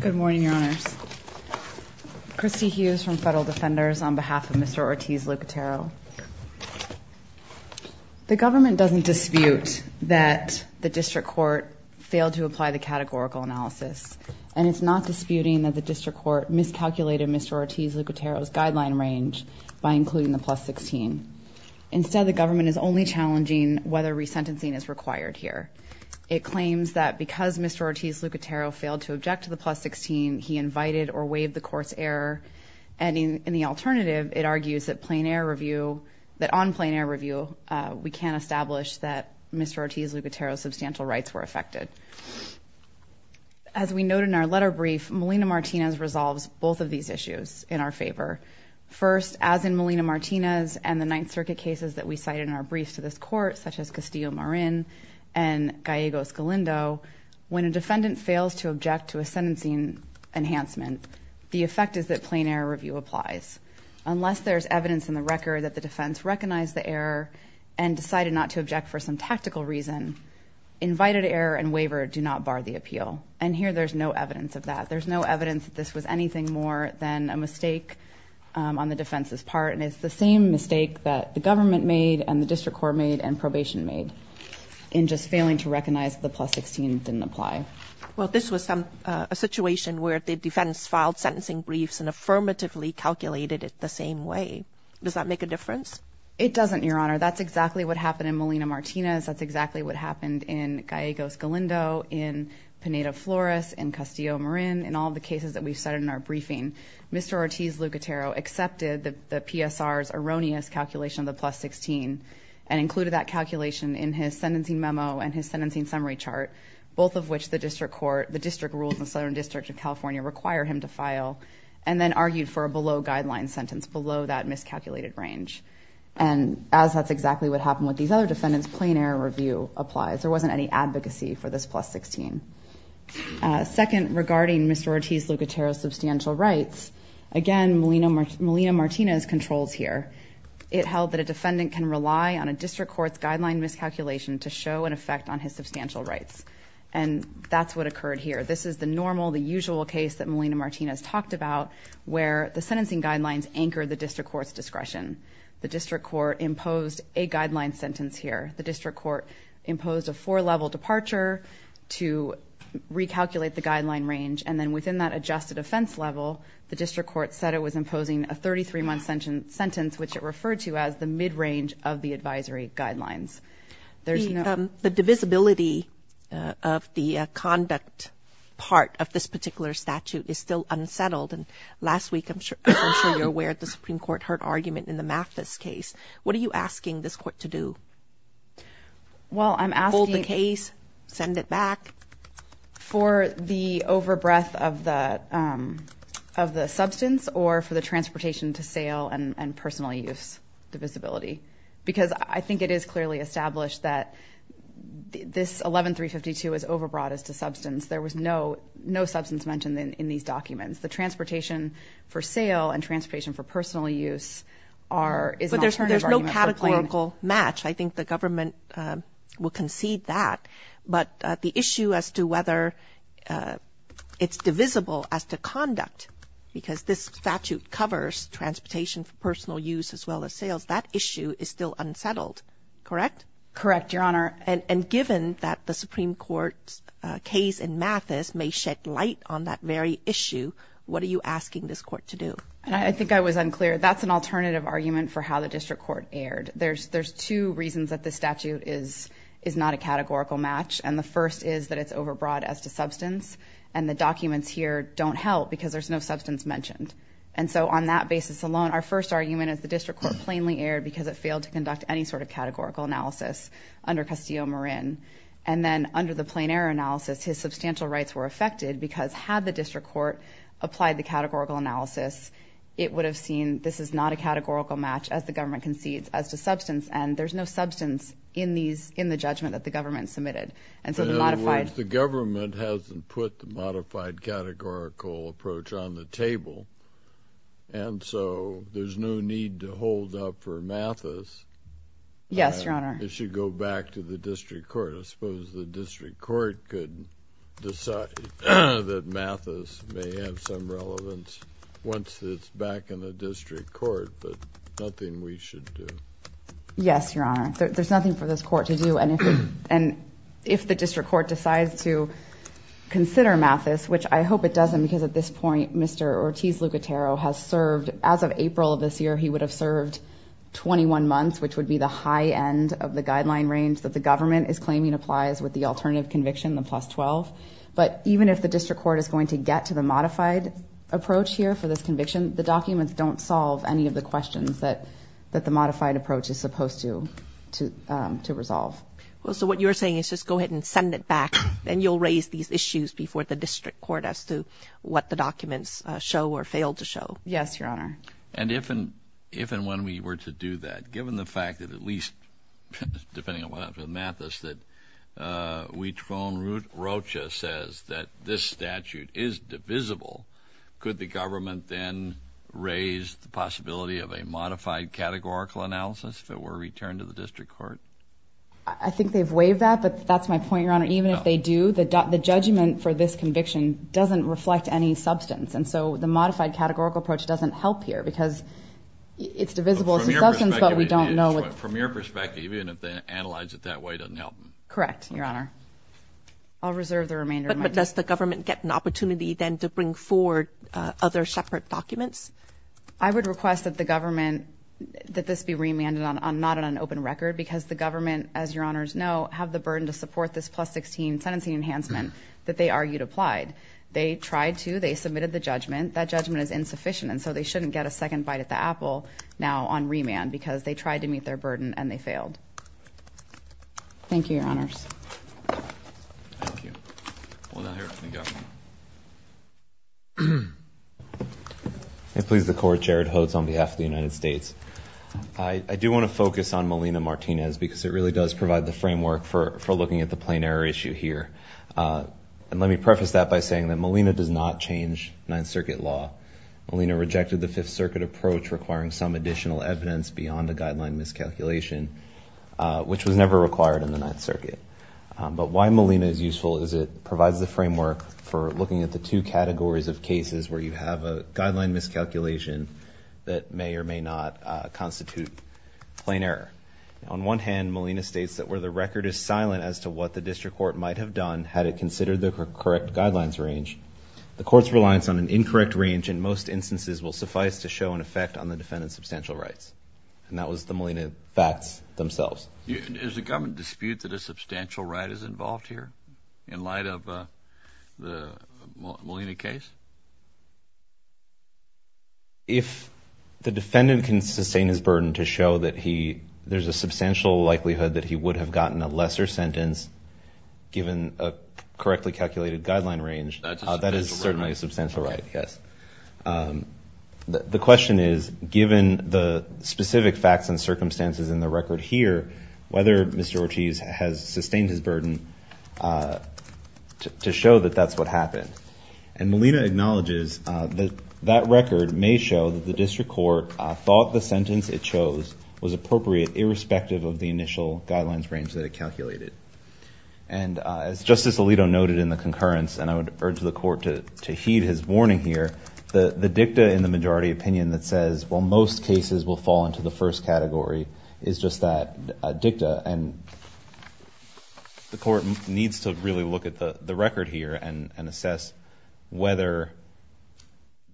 Good morning, your honors. Christy Hughes from Federal Defenders on behalf of Mr. Ortiz-Lucatero. The government doesn't dispute that the district court failed to apply the categorical analysis, and it's not disputing that the district court miscalculated Mr. Ortiz-Lucatero's guideline range by including the plus 16. Instead, the government is only challenging whether resentencing is required here. It claims that because Mr. Ortiz-Lucatero failed to object to the plus 16, he invited or waived the court's error. And in the alternative, it argues that on plain-air review, we can't establish that Mr. Ortiz-Lucatero's substantial rights were affected. As we note in our letter brief, Molina-Martinez resolves both of these issues in our favor. First, as in Molina-Martinez and the Ninth Circuit cases that we cite in our brief to this court, such as Castillo-Marin and Gallego-Scalindo, when a defendant fails to object to a sentencing enhancement, the effect is that plain-air review applies. Unless there's evidence in the record that the defense recognized the error and decided not to object for some tactical reason, invited error and waiver do not bar the appeal. And here there's no evidence of that. There's no evidence that this was anything more than a mistake on the defense's part, and it's the same mistake that the government made and the district court made and probation made in just failing to recognize the plus 16 didn't apply. Well, this was a situation where the defense filed sentencing briefs and affirmatively calculated it the same way. Does that make a difference? It doesn't, Your Honor. That's exactly what happened in Molina-Martinez. That's exactly what happened in Gallego-Scalindo, in Pineda-Flores, in Castillo-Marin. In all the cases that we've cited in our briefing, Mr. Ortiz-Lucatero accepted the PSR's erroneous calculation of the plus 16 and included that calculation in his sentencing memo and his sentencing summary chart, both of which the district court, the district rules in the Southern District of California, require him to file and then argued for a below-guideline sentence, below that miscalculated range. And as that's exactly what happened with these other defendants, plain-air review applies. There wasn't any advocacy for this plus 16. Second, regarding Mr. Ortiz-Lucatero's substantial rights, again, Molina-Martinez controls here. It held that a defendant can rely on a district court's guideline miscalculation to show an effect on his substantial rights, and that's what occurred here. This is the normal, the usual case that Molina-Martinez talked about where the sentencing guidelines anchor the district court's discretion. The district court imposed a guideline sentence here. The district court imposed a four-level departure to recalculate the guideline range, and then within that adjusted offense level, the district court said it was imposing a 33-month sentence, which it referred to as the mid-range of the advisory guidelines. The divisibility of the conduct part of this particular statute is still unsettled. And last week, I'm sure you're aware, the Supreme Court heard argument in the Mathis case. What are you asking this court to do? Well, I'm asking... Hold the case, send it back. For the overbreath of the substance or for the transportation to sale and personal use divisibility, because I think it is clearly established that this 11-352 is overbroad as to substance. There was no substance mentioned in these documents. There's no categorical match. I think the government will concede that. But the issue as to whether it's divisible as to conduct, because this statute covers transportation for personal use as well as sales, that issue is still unsettled, correct? Correct, Your Honor. And given that the Supreme Court's case in Mathis may shed light on that very issue, what are you asking this court to do? I think I was unclear. That's an alternative argument for how the district court erred. There's two reasons that this statute is not a categorical match, and the first is that it's overbroad as to substance, and the documents here don't help because there's no substance mentioned. And so on that basis alone, our first argument is the district court plainly erred because it failed to conduct any sort of categorical analysis under Custio Morin. And then under the plain error analysis, his substantial rights were affected because had the district court applied the categorical analysis, it would have seen this is not a categorical match as the government concedes as to substance, and there's no substance in the judgment that the government submitted. In other words, the government hasn't put the modified categorical approach on the table, and so there's no need to hold up for Mathis. Yes, Your Honor. It should go back to the district court. I suppose the district court could decide that Mathis may have some relevance once it's back in the district court, but nothing we should do. Yes, Your Honor. There's nothing for this court to do, and if the district court decides to consider Mathis, which I hope it doesn't because at this point Mr. Ortiz-Lucatero has served, as of April of this year he would have served 21 months, which would be the high end of the guideline range that the government is claiming applies with the alternative conviction, the plus 12. But even if the district court is going to get to the modified approach here for this conviction, the documents don't solve any of the questions that the modified approach is supposed to resolve. Well, so what you're saying is just go ahead and send it back, and you'll raise these issues before the district court as to what the documents show or fail to show. Yes, Your Honor. And if and when we were to do that, given the fact that at least, depending on what happens with Mathis, that we phone Rocha says that this statute is divisible, could the government then raise the possibility of a modified categorical analysis if it were returned to the district court? I think they've waived that, but that's my point, Your Honor. Even if they do, the judgment for this conviction doesn't reflect any substance, and so the modified categorical approach doesn't help here because it's divisible. From your perspective, even if they analyze it that way, it doesn't help. Correct, Your Honor. I'll reserve the remainder of my time. But does the government get an opportunity then to bring forward other separate documents? I would request that the government, that this be remanded not on an open record because the government, as Your Honors know, have the burden to support this plus-16 sentencing enhancement that they argued applied. They tried to. They submitted the judgment. That judgment is insufficient, and so they shouldn't get a second bite at the apple now on remand because they tried to meet their burden, and they failed. Thank you, Your Honors. Thank you. We'll now hear from the government. If it pleases the Court, Jared Hodes on behalf of the United States. I do want to focus on Molina-Martinez because it really does provide the framework for looking at the plain error issue here. And let me preface that by saying that Molina does not change Ninth Circuit law. Molina rejected the Fifth Circuit approach requiring Some Additional Evidence beyond the guideline miscalculation, which was never required in the Ninth Circuit. But why Molina is useful is it provides the framework for looking at the two categories of cases where you have a guideline miscalculation that may or may not constitute plain error. On one hand, Molina states that where the record is silent as to what the district court might have done had it considered the correct guidelines range, the court's reliance on an incorrect range in most instances will suffice to show an effect on the defendant's substantial rights. And that was the Molina facts themselves. Is the government dispute that a substantial right is involved here in light of the Molina case? If the defendant can sustain his burden to show that there's a substantial likelihood that he would have gotten a lesser sentence given a correctly calculated guideline range, that is certainly a substantial right, yes. The question is, given the specific facts and circumstances in the record here, whether Mr. Ortiz has sustained his burden to show that that's what happened. And Molina acknowledges that that record may show that the district court thought the sentence it chose was appropriate irrespective of the initial guidelines range that it calculated. And as Justice Alito noted in the concurrence, and I would urge the court to heed his warning here, the dicta in the majority opinion that says, well, most cases will fall into the first category is just that dicta. And the court needs to really look at the record here and assess whether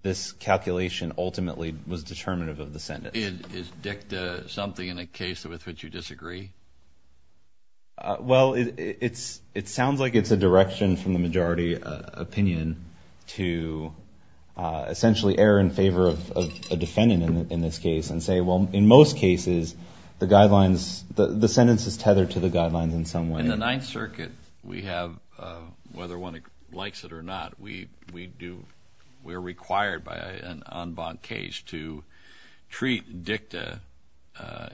this calculation ultimately was determinative of the sentence. Is dicta something in a case with which you disagree? Well, it sounds like it's a direction from the majority opinion to essentially err in favor of a defendant in this case and say, well, in most cases, the guidelines, the sentence is tethered to the guidelines in some way. In the Ninth Circuit, we have, whether one likes it or not, we're required by an en banc case to treat dicta,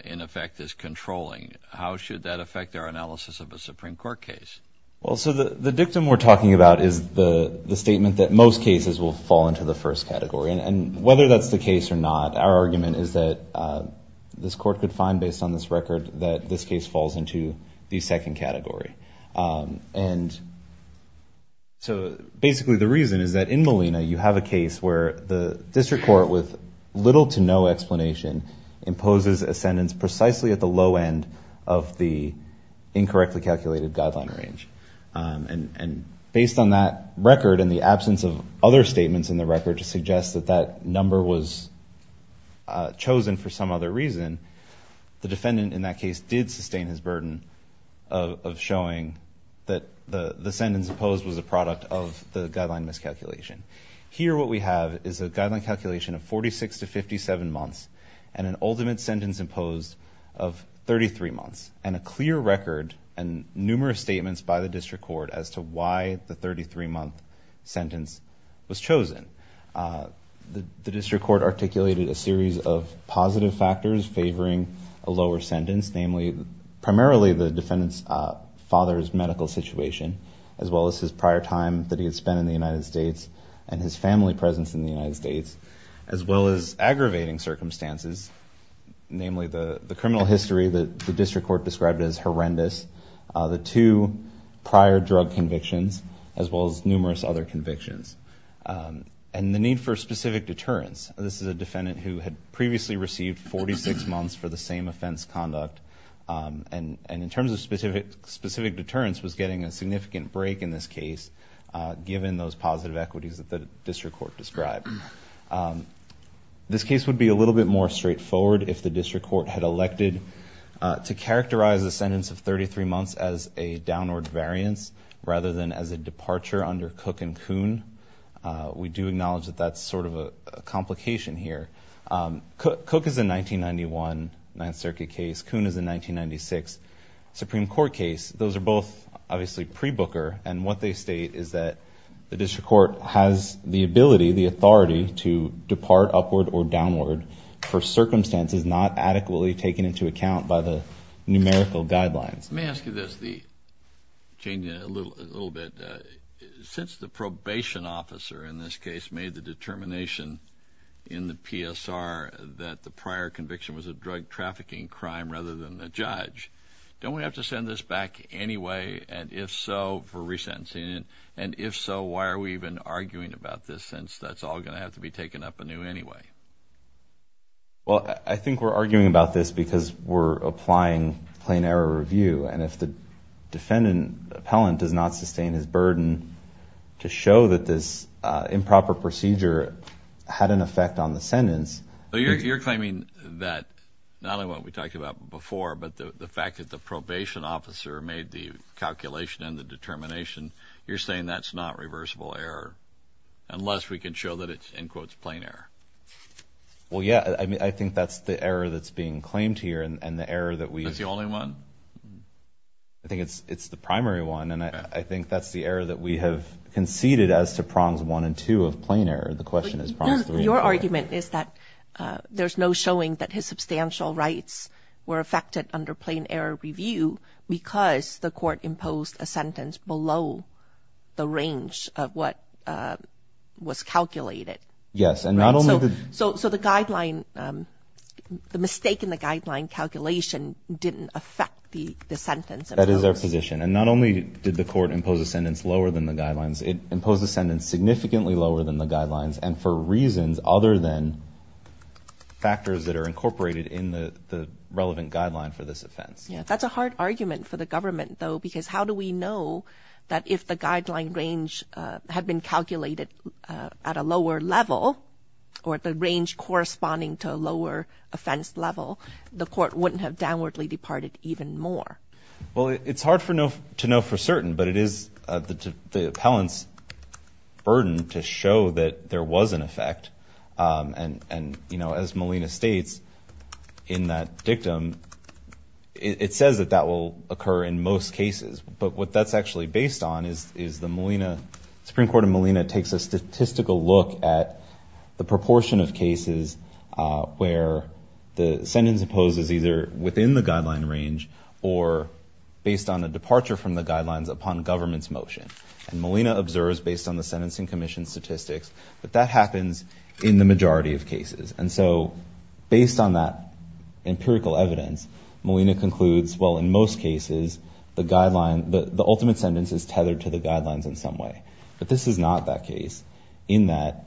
in effect, as controlling. How should that affect our analysis of a Supreme Court case? Well, so the dictum we're talking about is the statement that most cases will fall into the first category. And whether that's the case or not, our argument is that this court could find, based on this record, that this case falls into the second category. And so basically the reason is that in Molina you have a case where the district court, with little to no explanation, imposes a sentence precisely at the low end of the incorrectly calculated guideline range. And based on that record and the absence of other statements in the record to suggest that that number was chosen for some other reason, the defendant in that case did sustain his burden of showing that the sentence imposed was a product of the guideline miscalculation. Here what we have is a guideline calculation of 46 to 57 months and an ultimate sentence imposed of 33 months, and a clear record and numerous statements by the district court as to why the 33-month sentence was chosen. The district court articulated a series of positive factors favoring a lower sentence, namely primarily the defendant's father's medical situation, as well as his prior time that he had spent in the United States and his family presence in the United States, as well as aggravating circumstances, namely the criminal history that the district court described as horrendous, the two prior drug convictions, as well as numerous other convictions, and the need for specific deterrence. This is a defendant who had previously received 46 months for the same offense conduct, and in terms of specific deterrence was getting a significant break in this case, given those positive equities that the district court described. This case would be a little bit more straightforward if the district court had elected to characterize the sentence of 33 months as a downward variance rather than as a departure under Cook and Kuhn. We do acknowledge that that's sort of a complication here. Cook is a 1991 Ninth Circuit case. Kuhn is a 1996 Supreme Court case. Those are both obviously pre-Booker, and what they state is that the district court has the ability, the authority to depart upward or downward for circumstances not adequately taken into account by the numerical guidelines. Let me ask you this, changing it a little bit. Since the probation officer in this case made the determination in the PSR that the prior conviction was a drug trafficking crime rather than a judge, don't we have to send this back anyway, and if so, for resentencing? And if so, why are we even arguing about this, since that's all going to have to be taken up anew anyway? Well, I think we're arguing about this because we're applying plain error review, and if the defendant, the appellant, does not sustain his burden to show that this improper procedure had an effect on the sentence... But you're claiming that not only what we talked about before, but the fact that the probation officer made the calculation and the determination, you're saying that's not reversible error unless we can show that it's, in quotes, plain error. Well, yeah, I mean, I think that's the error that's being claimed here, and the error that we... That's the only one? I think it's the primary one, and I think that's the error that we have conceded as to prongs one and two of plain error. Your argument is that there's no showing that his substantial rights were affected under plain error review because the court imposed a sentence below the range of what was calculated. Yes, and not only... So the guideline, the mistake in the guideline calculation didn't affect the sentence. That is our position, and not only did the court impose a sentence lower than the guidelines, it imposed a sentence significantly lower than the guidelines, and for reasons other than factors that are incorporated in the relevant guideline for this offense. That's a hard argument for the government, though, because how do we know that if the guideline range had been calculated at a lower level or the range corresponding to a lower offense level, the court wouldn't have downwardly departed even more? Well, it's hard to know for certain, but it is the appellant's burden to show that there was an effect, and, you know, as Molina states in that dictum, it says that that will occur in most cases, but what that's actually based on is the Molina, Supreme Court of Molina takes a statistical look at the proportion of cases where the sentence imposed is either within the guideline range or based on a departure from the guidelines upon government's motion, and Molina observes based on the sentencing commission statistics that that happens in the majority of cases, and so based on that empirical evidence, Molina concludes, well, in most cases, the ultimate sentence is tethered to the guidelines in some way, but this is not that case in that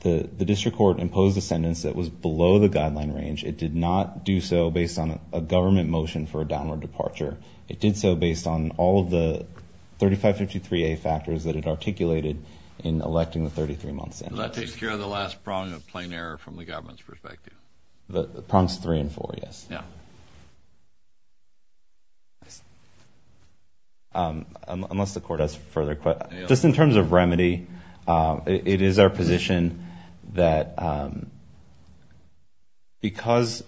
the district court imposed a sentence that was below the guideline range. It did not do so based on a government motion for a downward departure. It did so based on all of the 3553A factors that it articulated in electing the 33-month sentence. Does that take care of the last prong of plain error from the government's perspective? The prongs three and four, yes. Unless the court has further questions. Just in terms of remedy, it is our position that because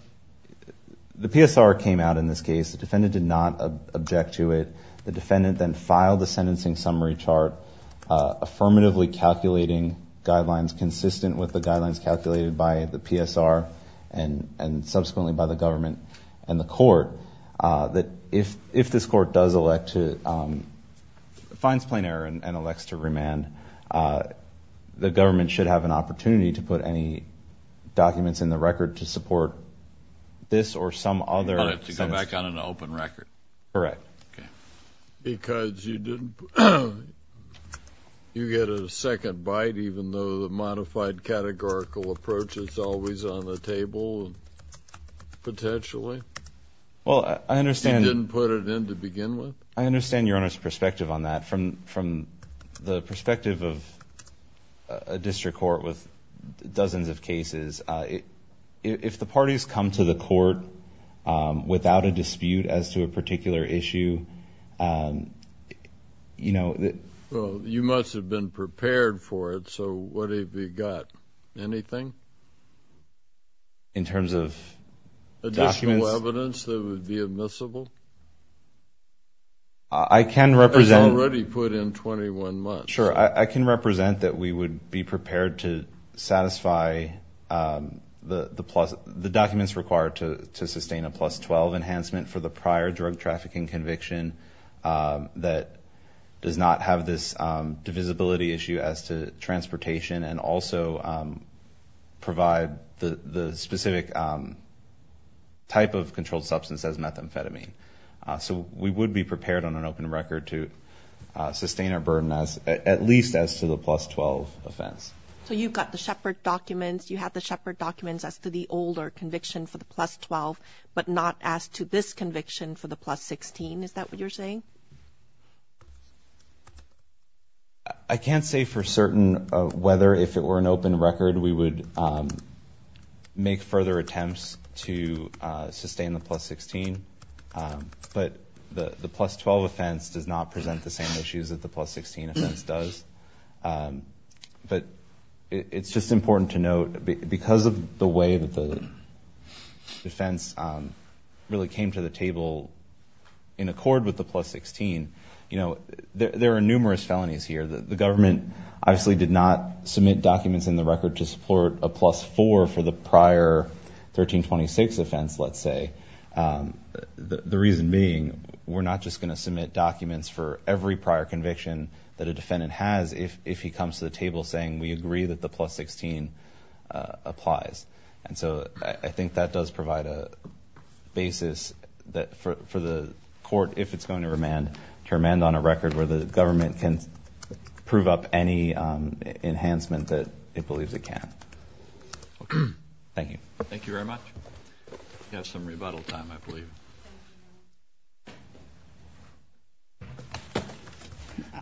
the PSR came out in this case, the defendant did not object to it, the defendant then filed the sentencing summary chart affirmatively calculating guidelines consistent with the guidelines calculated by the PSR and subsequently by the government and the court, that if this court does elect to finds plain error and elects to remand, the government should have an opportunity to put any documents in the record to support this or some other sentence. To go back on an open record? Correct. Because you get a second bite even though the modified categorical approach is always on the table potentially? Well, I understand. You didn't put it in to begin with? I understand your Honor's perspective on that. From the perspective of a district court with dozens of cases, if the parties come to the court without a dispute as to a particular issue, you know... Well, you must have been prepared for it, so what have you got, anything? In terms of documents? It's already put in 21 months. Sure, I can represent that we would be prepared to satisfy the documents required to sustain a plus 12 enhancement for the prior drug trafficking conviction that does not have this divisibility issue as to transportation and also provide the specific type of controlled substance as methamphetamine. So we would be prepared on an open record to sustain our burden at least as to the plus 12 offense. So you've got the Shepard documents, you have the Shepard documents as to the older conviction for the plus 12 but not as to this conviction for the plus 16, is that what you're saying? I can't say for certain whether if it were an open record we would make further attempts to sustain the plus 16. But the plus 12 offense does not present the same issues that the plus 16 offense does. But it's just important to note, because of the way that the offense really came to the table in accord with the plus 16, you know, there are numerous felonies here. The government obviously did not submit documents in the record to support a plus 4 for the prior 1326 offense, let's say. Reason being, we're not just going to submit documents for every prior conviction that a defendant has if he comes to the table saying we agree that the plus 16 applies. And so I think that does provide a basis for the court, if it's going to remand, to remand on a record where the government can prove up any enhancement that it believes it can. Thank you. Thank you very much.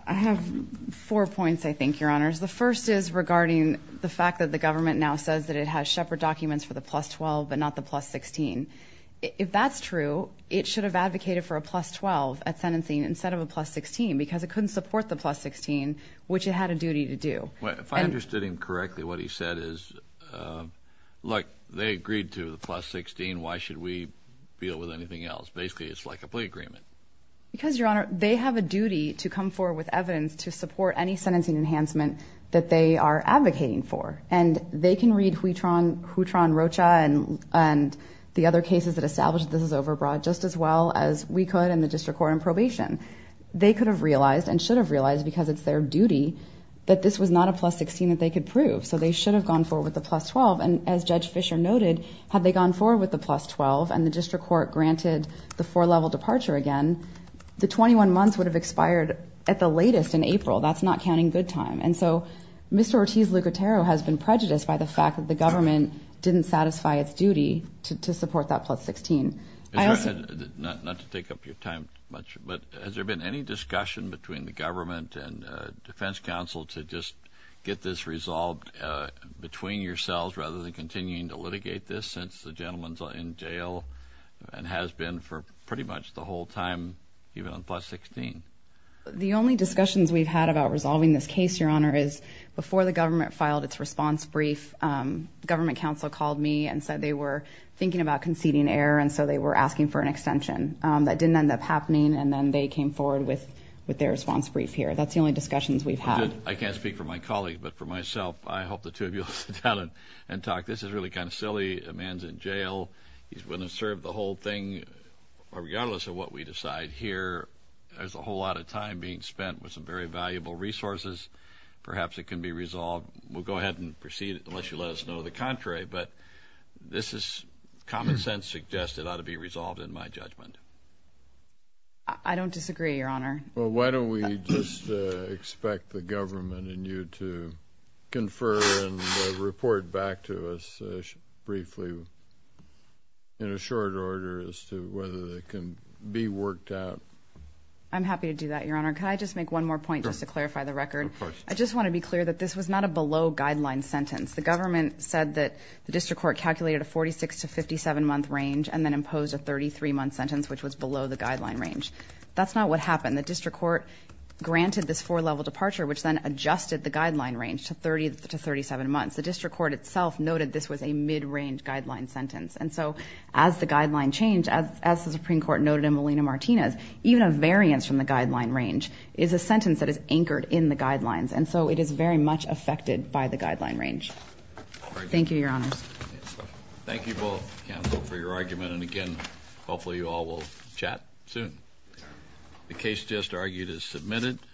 I have four points, I think, Your Honors. The first is regarding the fact that the government now says that it has Shepherd documents for the plus 12 but not the plus 16. If that's true, it should have advocated for a plus 12 at sentencing instead of a plus 16, because it couldn't support the plus 16, which it had a duty to do. If I understood him correctly, what he said is, look, they agreed to the plus 16. Why should we deal with anything else? Basically, it's like a plea agreement. Because, Your Honor, they have a duty to come forward with evidence to support any sentencing enhancement that they are advocating for. And they can read Huitran Rocha and the other cases that establish this is overbroad just as well as we could in the district court on probation. They could have realized and should have realized because it's their duty that this was not a plus 16 that they could prove. So they should have gone forward with the plus 12. And as Judge Fischer noted, had they gone forward with the plus 12 and the district court granted the four-level departure again, the 21 months would have expired at the latest in April. That's not counting good time. And so Mr. Ortiz-Lucatero has been prejudiced by the fact that the government didn't satisfy its duty to support that plus 16. Not to take up your time much, but has there been any discussion between the government and defense counsel to just get this resolved between yourselves rather than continuing to litigate this, since the gentleman's in jail and has been for pretty much the whole time, even on plus 16? The only discussions we've had about resolving this case, Your Honor, is before the government filed its response brief, government counsel called me and said they were thinking about conceding error, and so they were asking for an extension. That didn't end up happening, and then they came forward with their response brief here. That's the only discussions we've had. I can't speak for my colleagues, but for myself, I hope the two of you will sit down and talk. This is really kind of silly. A man's in jail. He's willing to serve the whole thing, regardless of what we decide here. There's a whole lot of time being spent with some very valuable resources. Perhaps it can be resolved. We'll go ahead and proceed unless you let us know the contrary, but this is common sense suggested ought to be resolved in my judgment. I don't disagree, Your Honor. Well, why don't we just expect the government and you to confer and report back to us briefly in a short order as to whether it can be worked out. I'm happy to do that, Your Honor. Can I just make one more point just to clarify the record? I just want to be clear that this was not a below-guideline sentence. The government said that the district court calculated a 46- to 57-month range and then imposed a 33-month sentence, which was below the guideline range. That's not what happened. The district court granted this four-level departure, which then adjusted the guideline range to 37 months. The district court itself noted this was a mid-range guideline sentence. And so as the guideline changed, as the Supreme Court noted in Molina-Martinez, even a variance from the guideline range is a sentence that is anchored in the guidelines. And so it is very much affected by the guideline range. Thank you, Your Honors.